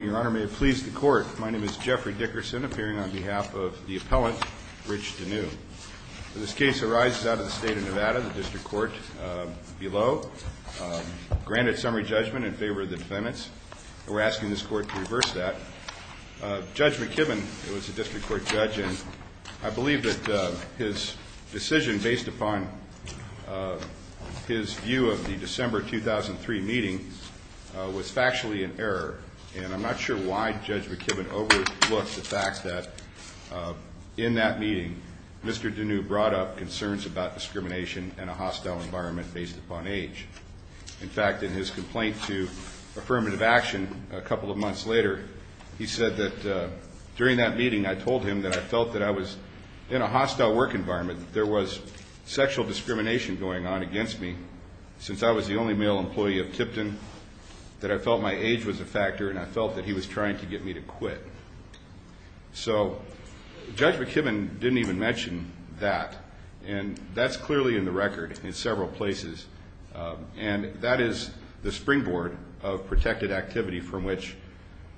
Your Honor, may it please the Court, my name is Jeffrey Dickerson, appearing on behalf of the appellant, Rich Deneu. This case arises out of the state of Nevada, the district court below, granted summary judgment in favor of the defendants. We're asking this court to reverse that. Judge McKibben was a district court judge, and I believe that his decision based upon his view of the December 2003 meeting was factually in error. And I'm not sure why Judge McKibben overlooked the fact that in that meeting, Mr. Deneu brought up concerns about discrimination in a hostile environment based upon age. In fact, in his complaint to Affirmative Action a couple of months later, he said that during that meeting, I told him that I felt that I was in a hostile work environment, that there was sexual discrimination going on against me, since I was the only male employee of Tipton, that I felt my age was a factor, and I felt that he was trying to get me to quit. So Judge McKibben didn't even mention that, and that's clearly in the record in several places. And that is the springboard of protected activity from which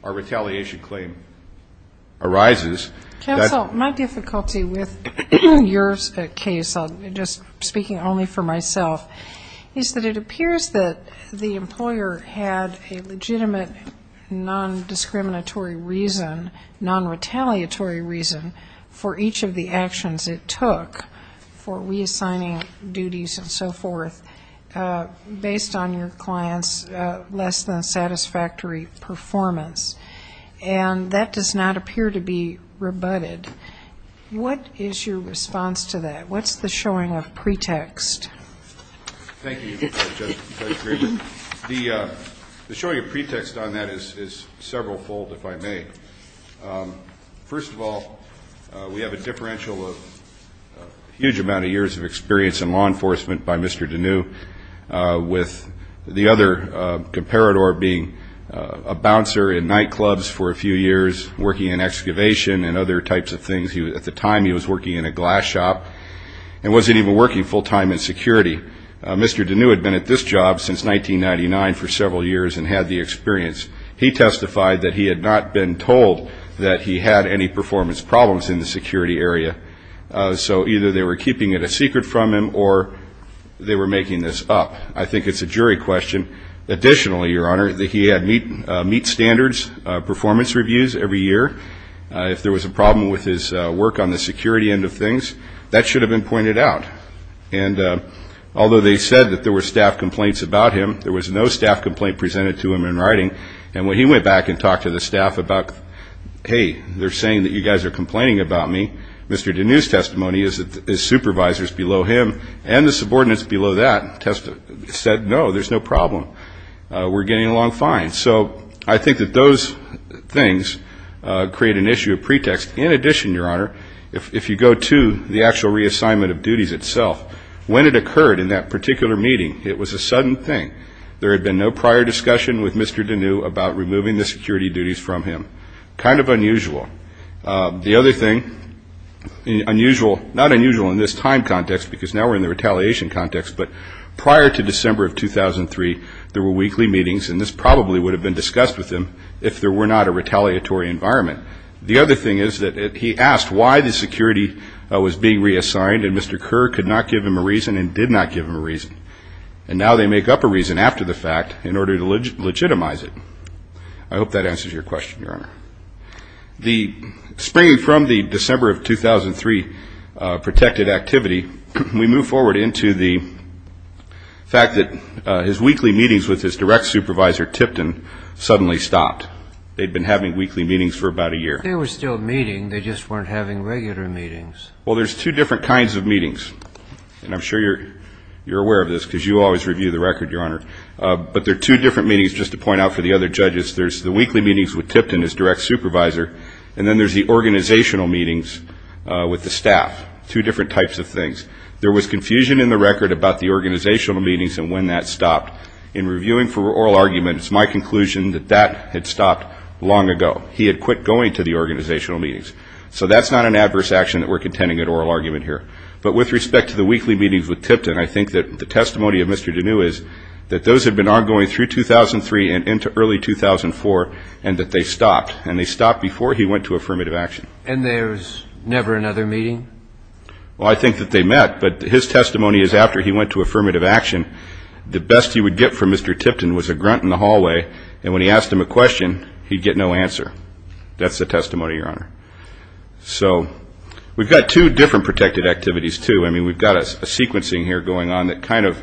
our retaliation claim arises. Counsel, my difficulty with your case, just speaking only for myself, is that it appears that the employer had a legitimate non-discriminatory reason, non-retaliatory reason for each of the actions it took for reassigning duties and so forth, based on your client's less than satisfactory performance. And that does not appear to be rebutted. What is your response to that? What's the showing of pretext? Thank you, Judge Griebel. The showing of pretext on that is several-fold, if I may. First of all, we have a differential of a huge amount of years of experience in law enforcement by Mr. Deneu, with the other comparator being a bouncer in nightclubs for a few years, working in excavation and other types of things. At the time, he was working in a glass shop and wasn't even working full-time in security. Mr. Deneu had been at this job since 1999 for several years and had the experience. He testified that he had not been told that he had any performance problems in the security area. So either they were keeping it a secret from him or they were making this up. I think it's a jury question. Additionally, Your Honor, that he had meet standards performance reviews every year. If there was a problem with his work on the security end of things, that should have been pointed out. And although they said that there were staff complaints about him, there was no staff complaint presented to him in writing. They're saying that you guys are complaining about me. Mr. Deneu's testimony is that his supervisors below him and the subordinates below that said, no, there's no problem. We're getting along fine. So I think that those things create an issue of pretext. In addition, Your Honor, if you go to the actual reassignment of duties itself, when it occurred in that particular meeting, it was a sudden thing. There had been no prior discussion with Mr. Deneu about removing the security duties from him. Kind of unusual. The other thing, unusual, not unusual in this time context because now we're in the retaliation context, but prior to December of 2003, there were weekly meetings, and this probably would have been discussed with him if there were not a retaliatory environment. The other thing is that he asked why the security was being reassigned, and Mr. Kerr could not give him a reason and did not give him a reason. And now they make up a reason after the fact in order to legitimize it. I hope that answers your question, Your Honor. Springing from the December of 2003 protected activity, we move forward into the fact that his weekly meetings with his direct supervisor, Tipton, suddenly stopped. They'd been having weekly meetings for about a year. They were still meeting. They just weren't having regular meetings. Well, there's two different kinds of meetings, and I'm sure you're aware of this because you always review the record, Your Honor. But there are two different meetings, just to point out for the other judges. There's the weekly meetings with Tipton, his direct supervisor, and then there's the organizational meetings with the staff, two different types of things. There was confusion in the record about the organizational meetings and when that stopped. In reviewing for oral argument, it's my conclusion that that had stopped long ago. He had quit going to the organizational meetings. So that's not an adverse action that we're contending at oral argument here. But with respect to the weekly meetings with Tipton, I think that the testimony of Mr. Deneu is that those had been ongoing through 2003 and into early 2004 and that they stopped, and they stopped before he went to affirmative action. And there's never another meeting? Well, I think that they met, but his testimony is after he went to affirmative action, the best he would get from Mr. Tipton was a grunt in the hallway, and when he asked him a question, he'd get no answer. That's the testimony, Your Honor. So we've got two different protected activities, too. I mean, we've got a sequencing here going on that kind of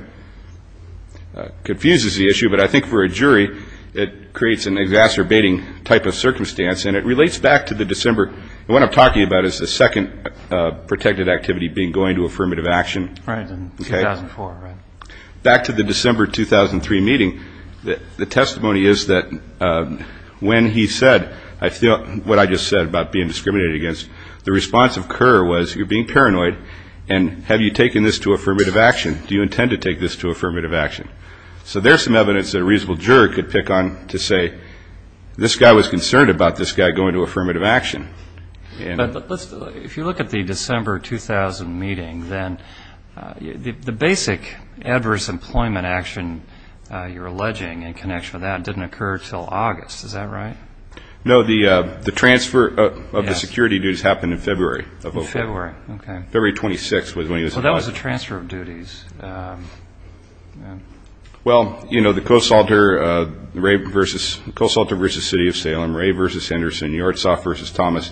confuses the issue, but I think for a jury it creates an exacerbating type of circumstance, and it relates back to the December. And what I'm talking about is the second protected activity being going to affirmative action. Right, in 2004, right. Back to the December 2003 meeting, the testimony is that when he said what I just said about being discriminated against, the response of Kerr was, you're being paranoid, and have you taken this to affirmative action? Do you intend to take this to affirmative action? So there's some evidence that a reasonable jury could pick on to say, this guy was concerned about this guy going to affirmative action. But if you look at the December 2000 meeting, then the basic adverse employment action you're alleging in connection with that didn't occur until August. Is that right? No. The transfer of the security duties happened in February. February, okay. February 26th was when he was deposited. So that was the transfer of duties. Well, you know, the Coast Salter v. City of Salem, Ray v. Henderson, Yartsov v. Thomas,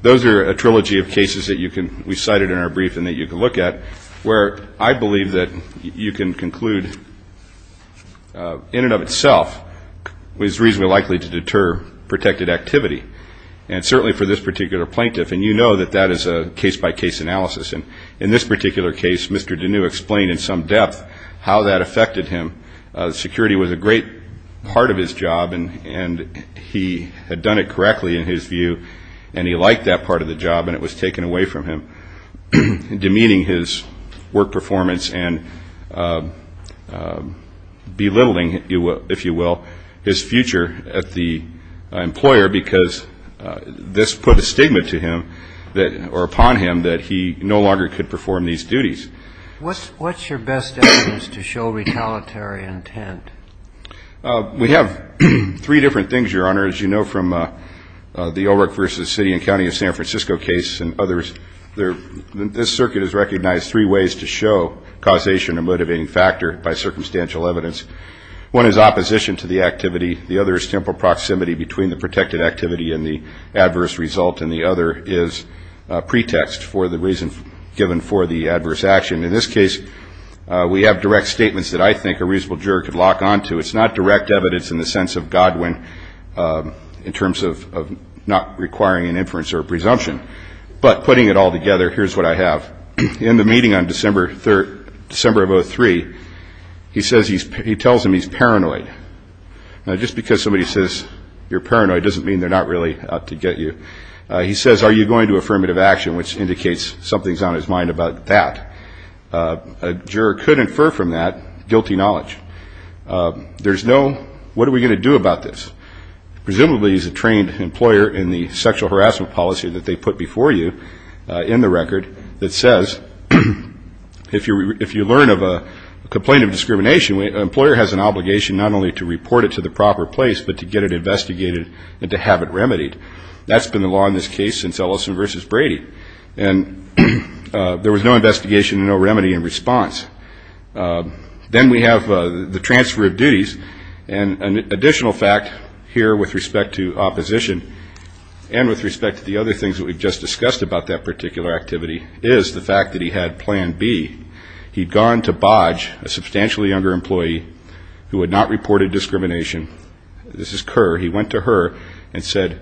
those are a trilogy of cases that we cited in our briefing that you can look at, where I believe that you can conclude in and of itself was reasonably likely to deter protected activity, and certainly for this particular plaintiff. And you know that that is a case-by-case analysis. And in this particular case, Mr. Deneu explained in some depth how that affected him. Security was a great part of his job, and he had done it correctly in his view, and he liked that part of the job, and it was taken away from him, demeaning his work performance and belittling, if you will, his future as the employer, because this put a stigma to him or upon him that he no longer could perform these duties. What's your best evidence to show retaliatory intent? We have three different things, Your Honor. As you know from the Ulrich v. City and County of San Francisco case and others, this circuit has recognized three ways to show causation or motivating factor by circumstantial evidence. One is opposition to the activity. The other is simple proximity between the protected activity and the adverse result, and the other is pretext for the reason given for the adverse action. In this case, we have direct statements that I think a reasonable juror could lock onto. It's not direct evidence in the sense of Godwin in terms of not requiring an inference or a presumption, but putting it all together, here's what I have. In the meeting on December of 2003, he tells them he's paranoid. Now, just because somebody says you're paranoid doesn't mean they're not really out to get you. He says, are you going to affirmative action, which indicates something's on his mind about that. A juror could infer from that guilty knowledge. There's no, what are we going to do about this? Presumably he's a trained employer in the sexual harassment policy that they put before you in the record that says, if you learn of a complaint of discrimination, an employer has an obligation not only to report it to the proper place, but to get it investigated and to have it remedied. That's been the law in this case since Ellison v. Brady. And there was no investigation and no remedy in response. Then we have the transfer of duties. And an additional fact here with respect to opposition and with respect to the other things that we've just discussed about that particular activity is the fact that he had Plan B. He'd gone to Bodge, a substantially younger employee who had not reported discrimination. This is Kerr. He went to her and said,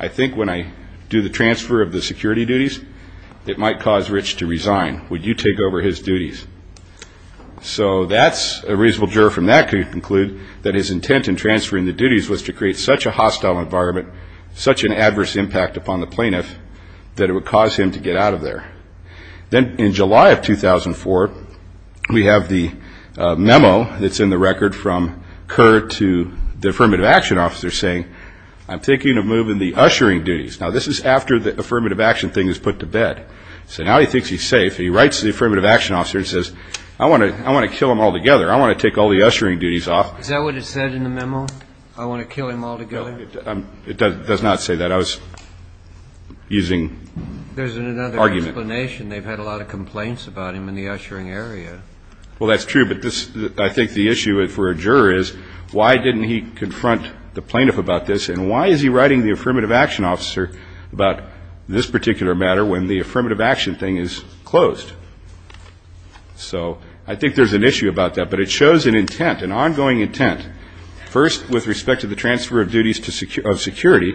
I think when I do the transfer of the security duties, it might cause Rich to resign. Would you take over his duties? So that's a reasonable juror from that could conclude that his intent in transferring the duties was to create such a hostile environment, such an adverse impact upon the plaintiff, that it would cause him to get out of there. Then in July of 2004, we have the memo that's in the record from Kerr to the affirmative action officer saying, I'm thinking of moving the ushering duties. Now, this is after the affirmative action thing is put to bed. So now he thinks he's safe. He writes to the affirmative action officer and says, I want to kill him altogether. I want to take all the ushering duties off. Is that what it said in the memo? I want to kill him altogether? It does not say that. I was using argument. There's another explanation. They've had a lot of complaints about him in the ushering area. Well, that's true. But this, I think the issue for a juror is, why didn't he confront the plaintiff about this? And why is he writing the affirmative action officer about this particular matter when the affirmative action thing is closed? So I think there's an issue about that. But it shows an intent, an ongoing intent. First, with respect to the transfer of duties of security,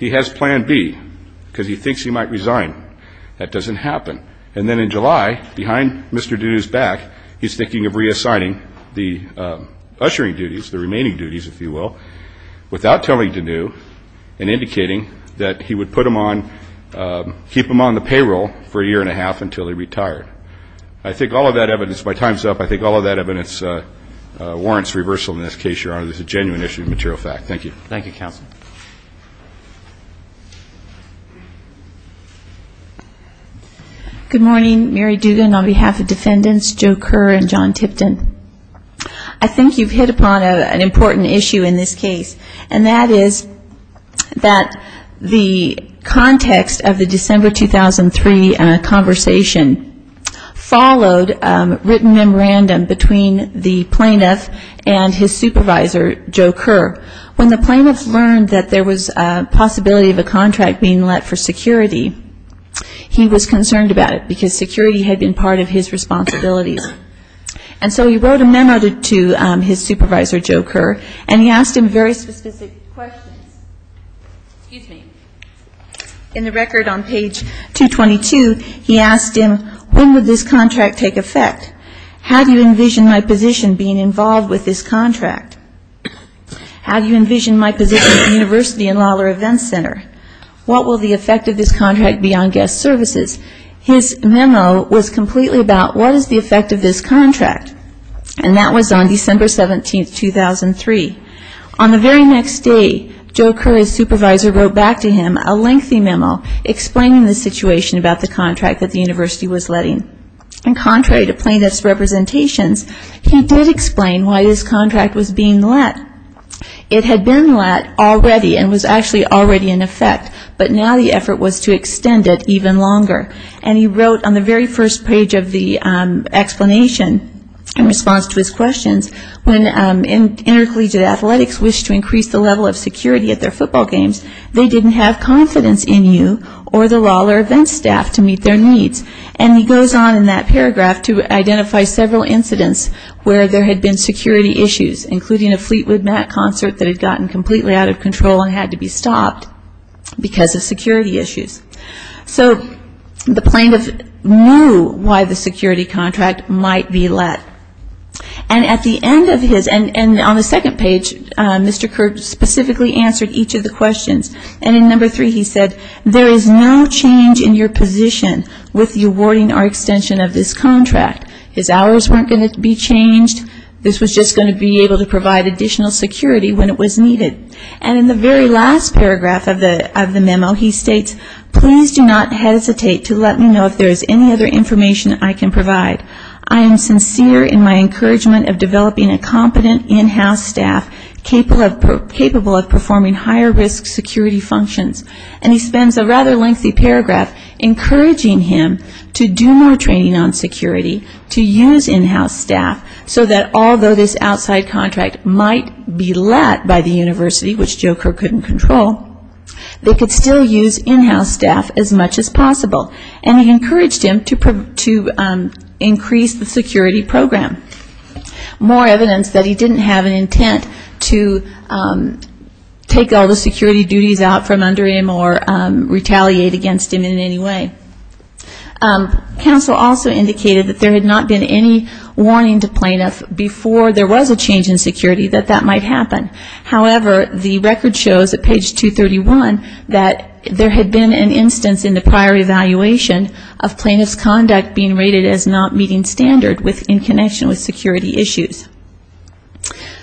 he has plan B because he thinks he might want to kill him or he might resign. That doesn't happen. And then in July, behind Mr. Deneu's back, he's thinking of reassigning the ushering duties, the remaining duties, if you will, without telling Deneu and indicating that he would put him on, keep him on the payroll for a year and a half until he retired. I think all of that evidence, my time's up, I think all of that evidence warrants reversal in this case, Your Honor. This is a genuine issue of material fact. Thank you. Thank you, counsel. Good morning. Mary Dugan on behalf of defendants Joe Kerr and John Tipton. I think you've hit upon an important issue in this case, and that is that the context of the December 2003 conversation followed written memorandum between the plaintiff and his supervisor, Joe Kerr. When the plaintiff learned that there was a possibility of a contract being let for security, he was concerned about it because security had been part of his responsibilities. And so he wrote a memo to his supervisor, Joe Kerr, and he asked him very specific questions. Excuse me. In the record on page 222, he asked him, when would this contract take effect? How do you envision my position being involved with this contract? How do you envision my position at the university in Lawler Events Center? What will the effect of this contract be on guest services? His memo was completely about what is the effect of this contract, and that was on December 17, 2003. On the very next day, Joe Kerr and his supervisor wrote back to him a lengthy memo explaining the situation about the contract that the university was letting. And contrary to plaintiff's representations, he did explain why this contract was being let. It had been let already and was actually already in effect, but now the effort was to extend it even longer. And he wrote on the very first page of the explanation in response to his questions, when intercollegiate athletics wished to increase the level of security at their football games, they didn't have confidence in you or the Lawler Events staff to meet their needs. And he goes on in that paragraph to identify several incidents where there had been security issues, including a Fleetwood Mac concert that had gotten completely out of control and had to be stopped because of security issues. So the plaintiff knew why the security contract might be let. And at the end of his, and on the second page, Mr. Kerr specifically answered each of the questions. And in number three, he said, there is no change in your position with the awarding or extension of this contract. His hours weren't going to be changed. This was just going to be able to provide additional security when it was needed. And in the very last paragraph of the memo, he states, please do not hesitate to let me know if there is any other information I can provide. I am sincere in my encouragement of developing a competent in-house staff capable of performing higher risk security functions. And he spends a rather lengthy paragraph encouraging him to do more training on security, to use in-house staff so that although this outside contract might be let by the university, which Joe Kerr couldn't control, they could still use in-house staff as much as possible. And he encouraged him to increase the security program. More evidence that he didn't have an intent to take all the security duties out from under him or retaliate against him in any way. Counsel also indicated that there had not been any warning to plaintiffs before there was a change in security that that might happen. However, the record shows at page 231 that there had been an instance in the prior evaluation of plaintiff's conduct being rated as not meeting standard in connection with security issues.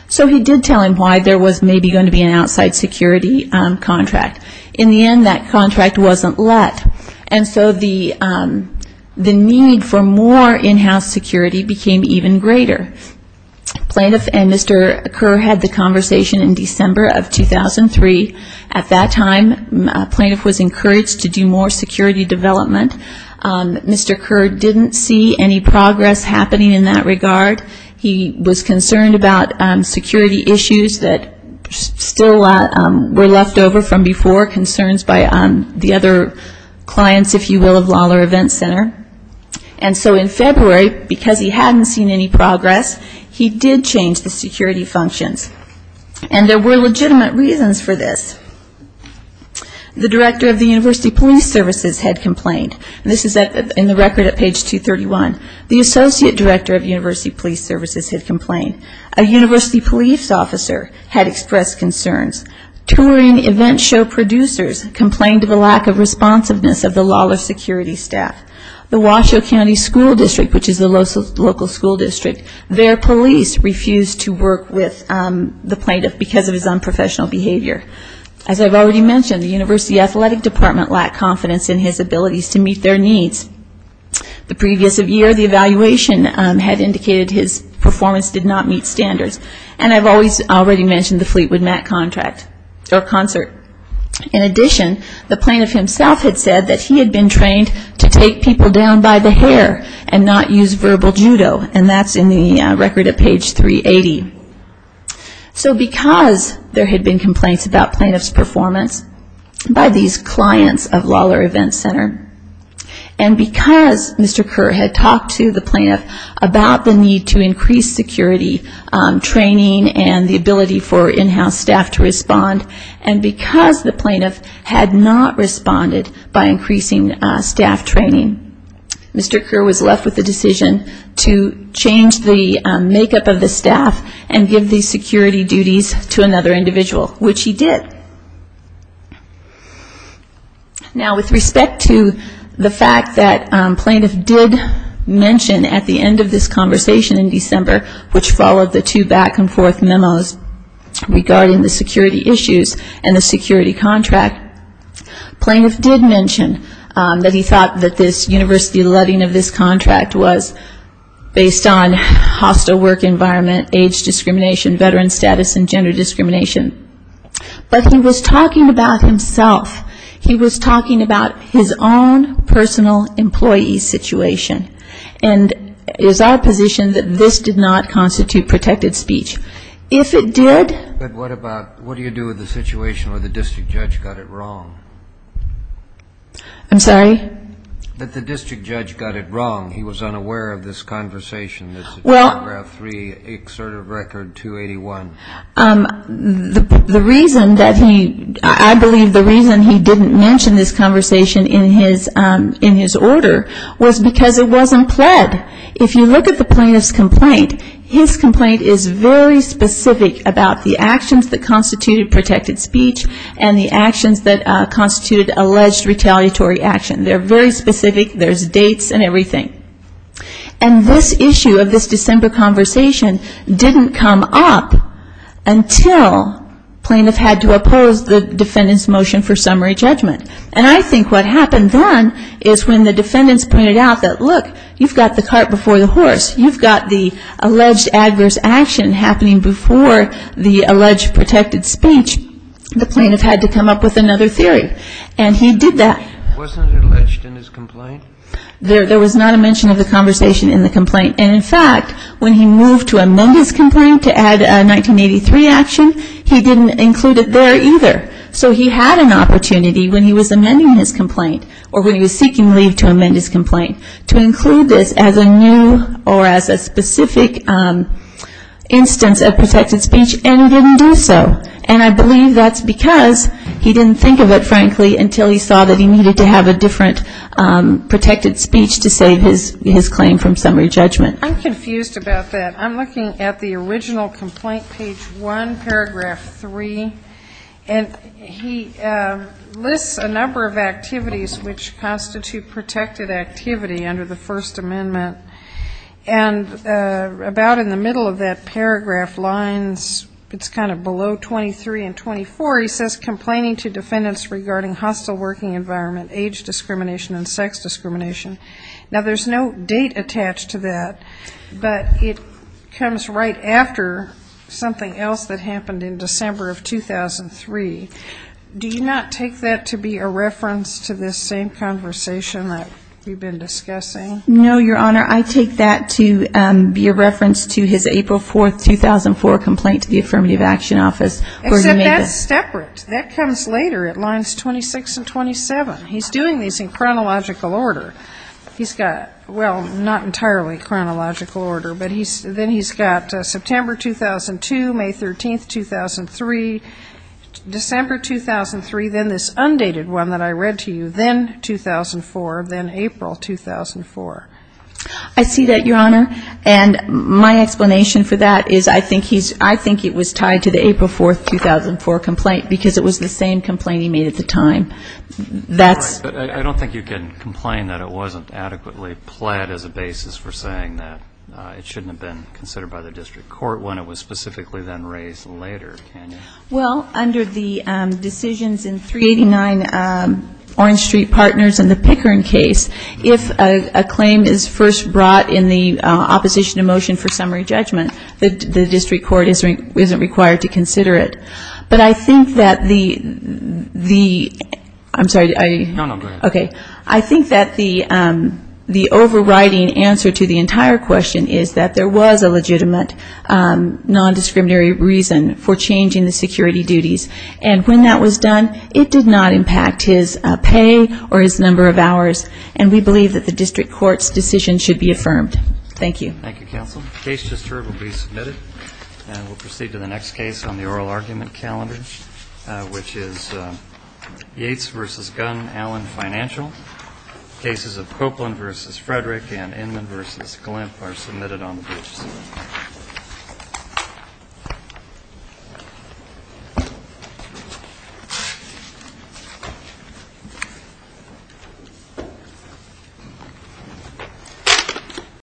So he did tell him why there was maybe going to be an outside security contract. In the end, that contract wasn't let. And so the need for more in-house security became even greater. Plaintiff and Mr. Kerr had the conversation in December of 2003. At that time, plaintiff was encouraged to do more security development. Mr. Kerr didn't see any progress happening in that regard. He was concerned about security issues that still were left over from before, concerns by the other clients, if you will, of Lawler Event Center. And so in February, because he hadn't seen any progress, he did change the security functions. And there were legitimate reasons for this. The director of the university police services had complained. This is in the record at page 231. The associate director of university police services had complained. A university police officer had expressed concerns. Touring event show producers complained of a lack of responsiveness of the Lawler security staff. The Washoe County School District, which is the local school district, their police refused to work with the plaintiff because of his unprofessional behavior. As I've already mentioned, the university athletic department lacked confidence in his abilities to meet their needs. The previous year, the evaluation had indicated his performance did not meet standards. And I've already mentioned the Fleetwood Mac contract or concert. In addition, the plaintiff himself had said that he had been trained to take people down by the hair and not use verbal judo, and that's in the record at page 380. So because there had been complaints about plaintiff's performance by these clients of Lawler Event Center, and because Mr. Kerr had talked to the plaintiff about the need to increase security training and the ability for in-house staff to respond, and because the plaintiff had not responded by increasing staff training, Mr. Kerr was left with the decision to change the makeup of the staff and give the security duties to another individual, which he did. Now, with respect to the fact that plaintiff did mention at the end of this conversation in December, which followed the two back-and-forth memos regarding the security issues and the security contract, plaintiff did mention that he thought that this university letting of this contract was based on hostile work environment, age discrimination, veteran status, and gender discrimination. But he was talking about himself. He was talking about his own personal employee situation. And it is our position that this did not constitute protected speech. But what do you do with the situation where the district judge got it wrong? I'm sorry? That the district judge got it wrong. He was unaware of this conversation that's in paragraph 3, exerted record 281. The reason that he, I believe the reason he didn't mention this conversation in his order was because it wasn't pled. If you look at the plaintiff's complaint, his complaint is very specific about the actions that constituted protected speech and the actions that constituted alleged retaliatory action. They're very specific. There's dates and everything. And this issue of this December conversation didn't come up until plaintiff had to oppose the defendant's motion for summary judgment. And I think what happened then is when the defendants pointed out that, look, you've got the cart before the horse. You've got the alleged adverse action happening before the alleged protected speech. The plaintiff had to come up with another theory. And he did that. Wasn't it alleged in his complaint? There was not a mention of the conversation in the complaint. And, in fact, when he moved to amend his complaint to add a 1983 action, he didn't include it there either. So he had an opportunity when he was amending his complaint or when he was seeking leave to amend his complaint to include this as a new or as a specific instance of protected speech, and he didn't do so. And I believe that's because he didn't think of it, frankly, until he saw that he needed to have a different protected speech to save his claim from summary judgment. I'm confused about that. I'm looking at the original complaint, page 1, paragraph 3, and he lists a number of activities which constitute protected activity under the First Amendment. And about in the middle of that paragraph lines, it's kind of below 23 and 24, he says, Complaining to defendants regarding hostile working environment, age discrimination, and sex discrimination. Now, there's no date attached to that, but it comes right after something else that happened in December of 2003. Do you not take that to be a reference to this same conversation that we've been discussing? No, Your Honor. I take that to be a reference to his April 4, 2004 complaint to the Affirmative Action Office. Except that's separate. That comes later at lines 26 and 27. He's doing these in chronological order. He's got, well, not entirely chronological order, but then he's got September 2002, May 13, 2003, December 2003, then this undated one that I read to you, then 2004, then April 2004. I see that, Your Honor. And my explanation for that is I think it was tied to the April 4, 2004 complaint because it was the same complaint he made at the time. I don't think you can complain that it wasn't adequately pled as a basis for saying that it shouldn't have been considered by the district court when it was specifically then raised later, can you? Well, under the decisions in 389 Orange Street Partners and the Pickern case, if a claim is first brought in the opposition to motion for summary judgment, the district court isn't required to consider it. But I think that the ‑‑ I'm sorry. No, no, go ahead. Okay. I think that the overriding answer to the entire question is that there was a legitimate nondiscriminatory reason for changing the security duties. And when that was done, it did not impact his pay or his number of hours, and we believe that the district court's decision should be affirmed. Thank you. Thank you, counsel. The case just heard will be submitted, and we'll proceed to the next case on the oral argument calendar, which is Yates v. Gunn, Allen Financial. Cases of Copeland v. Frederick and Inman v. Glimp are submitted on the briefs. Thank you.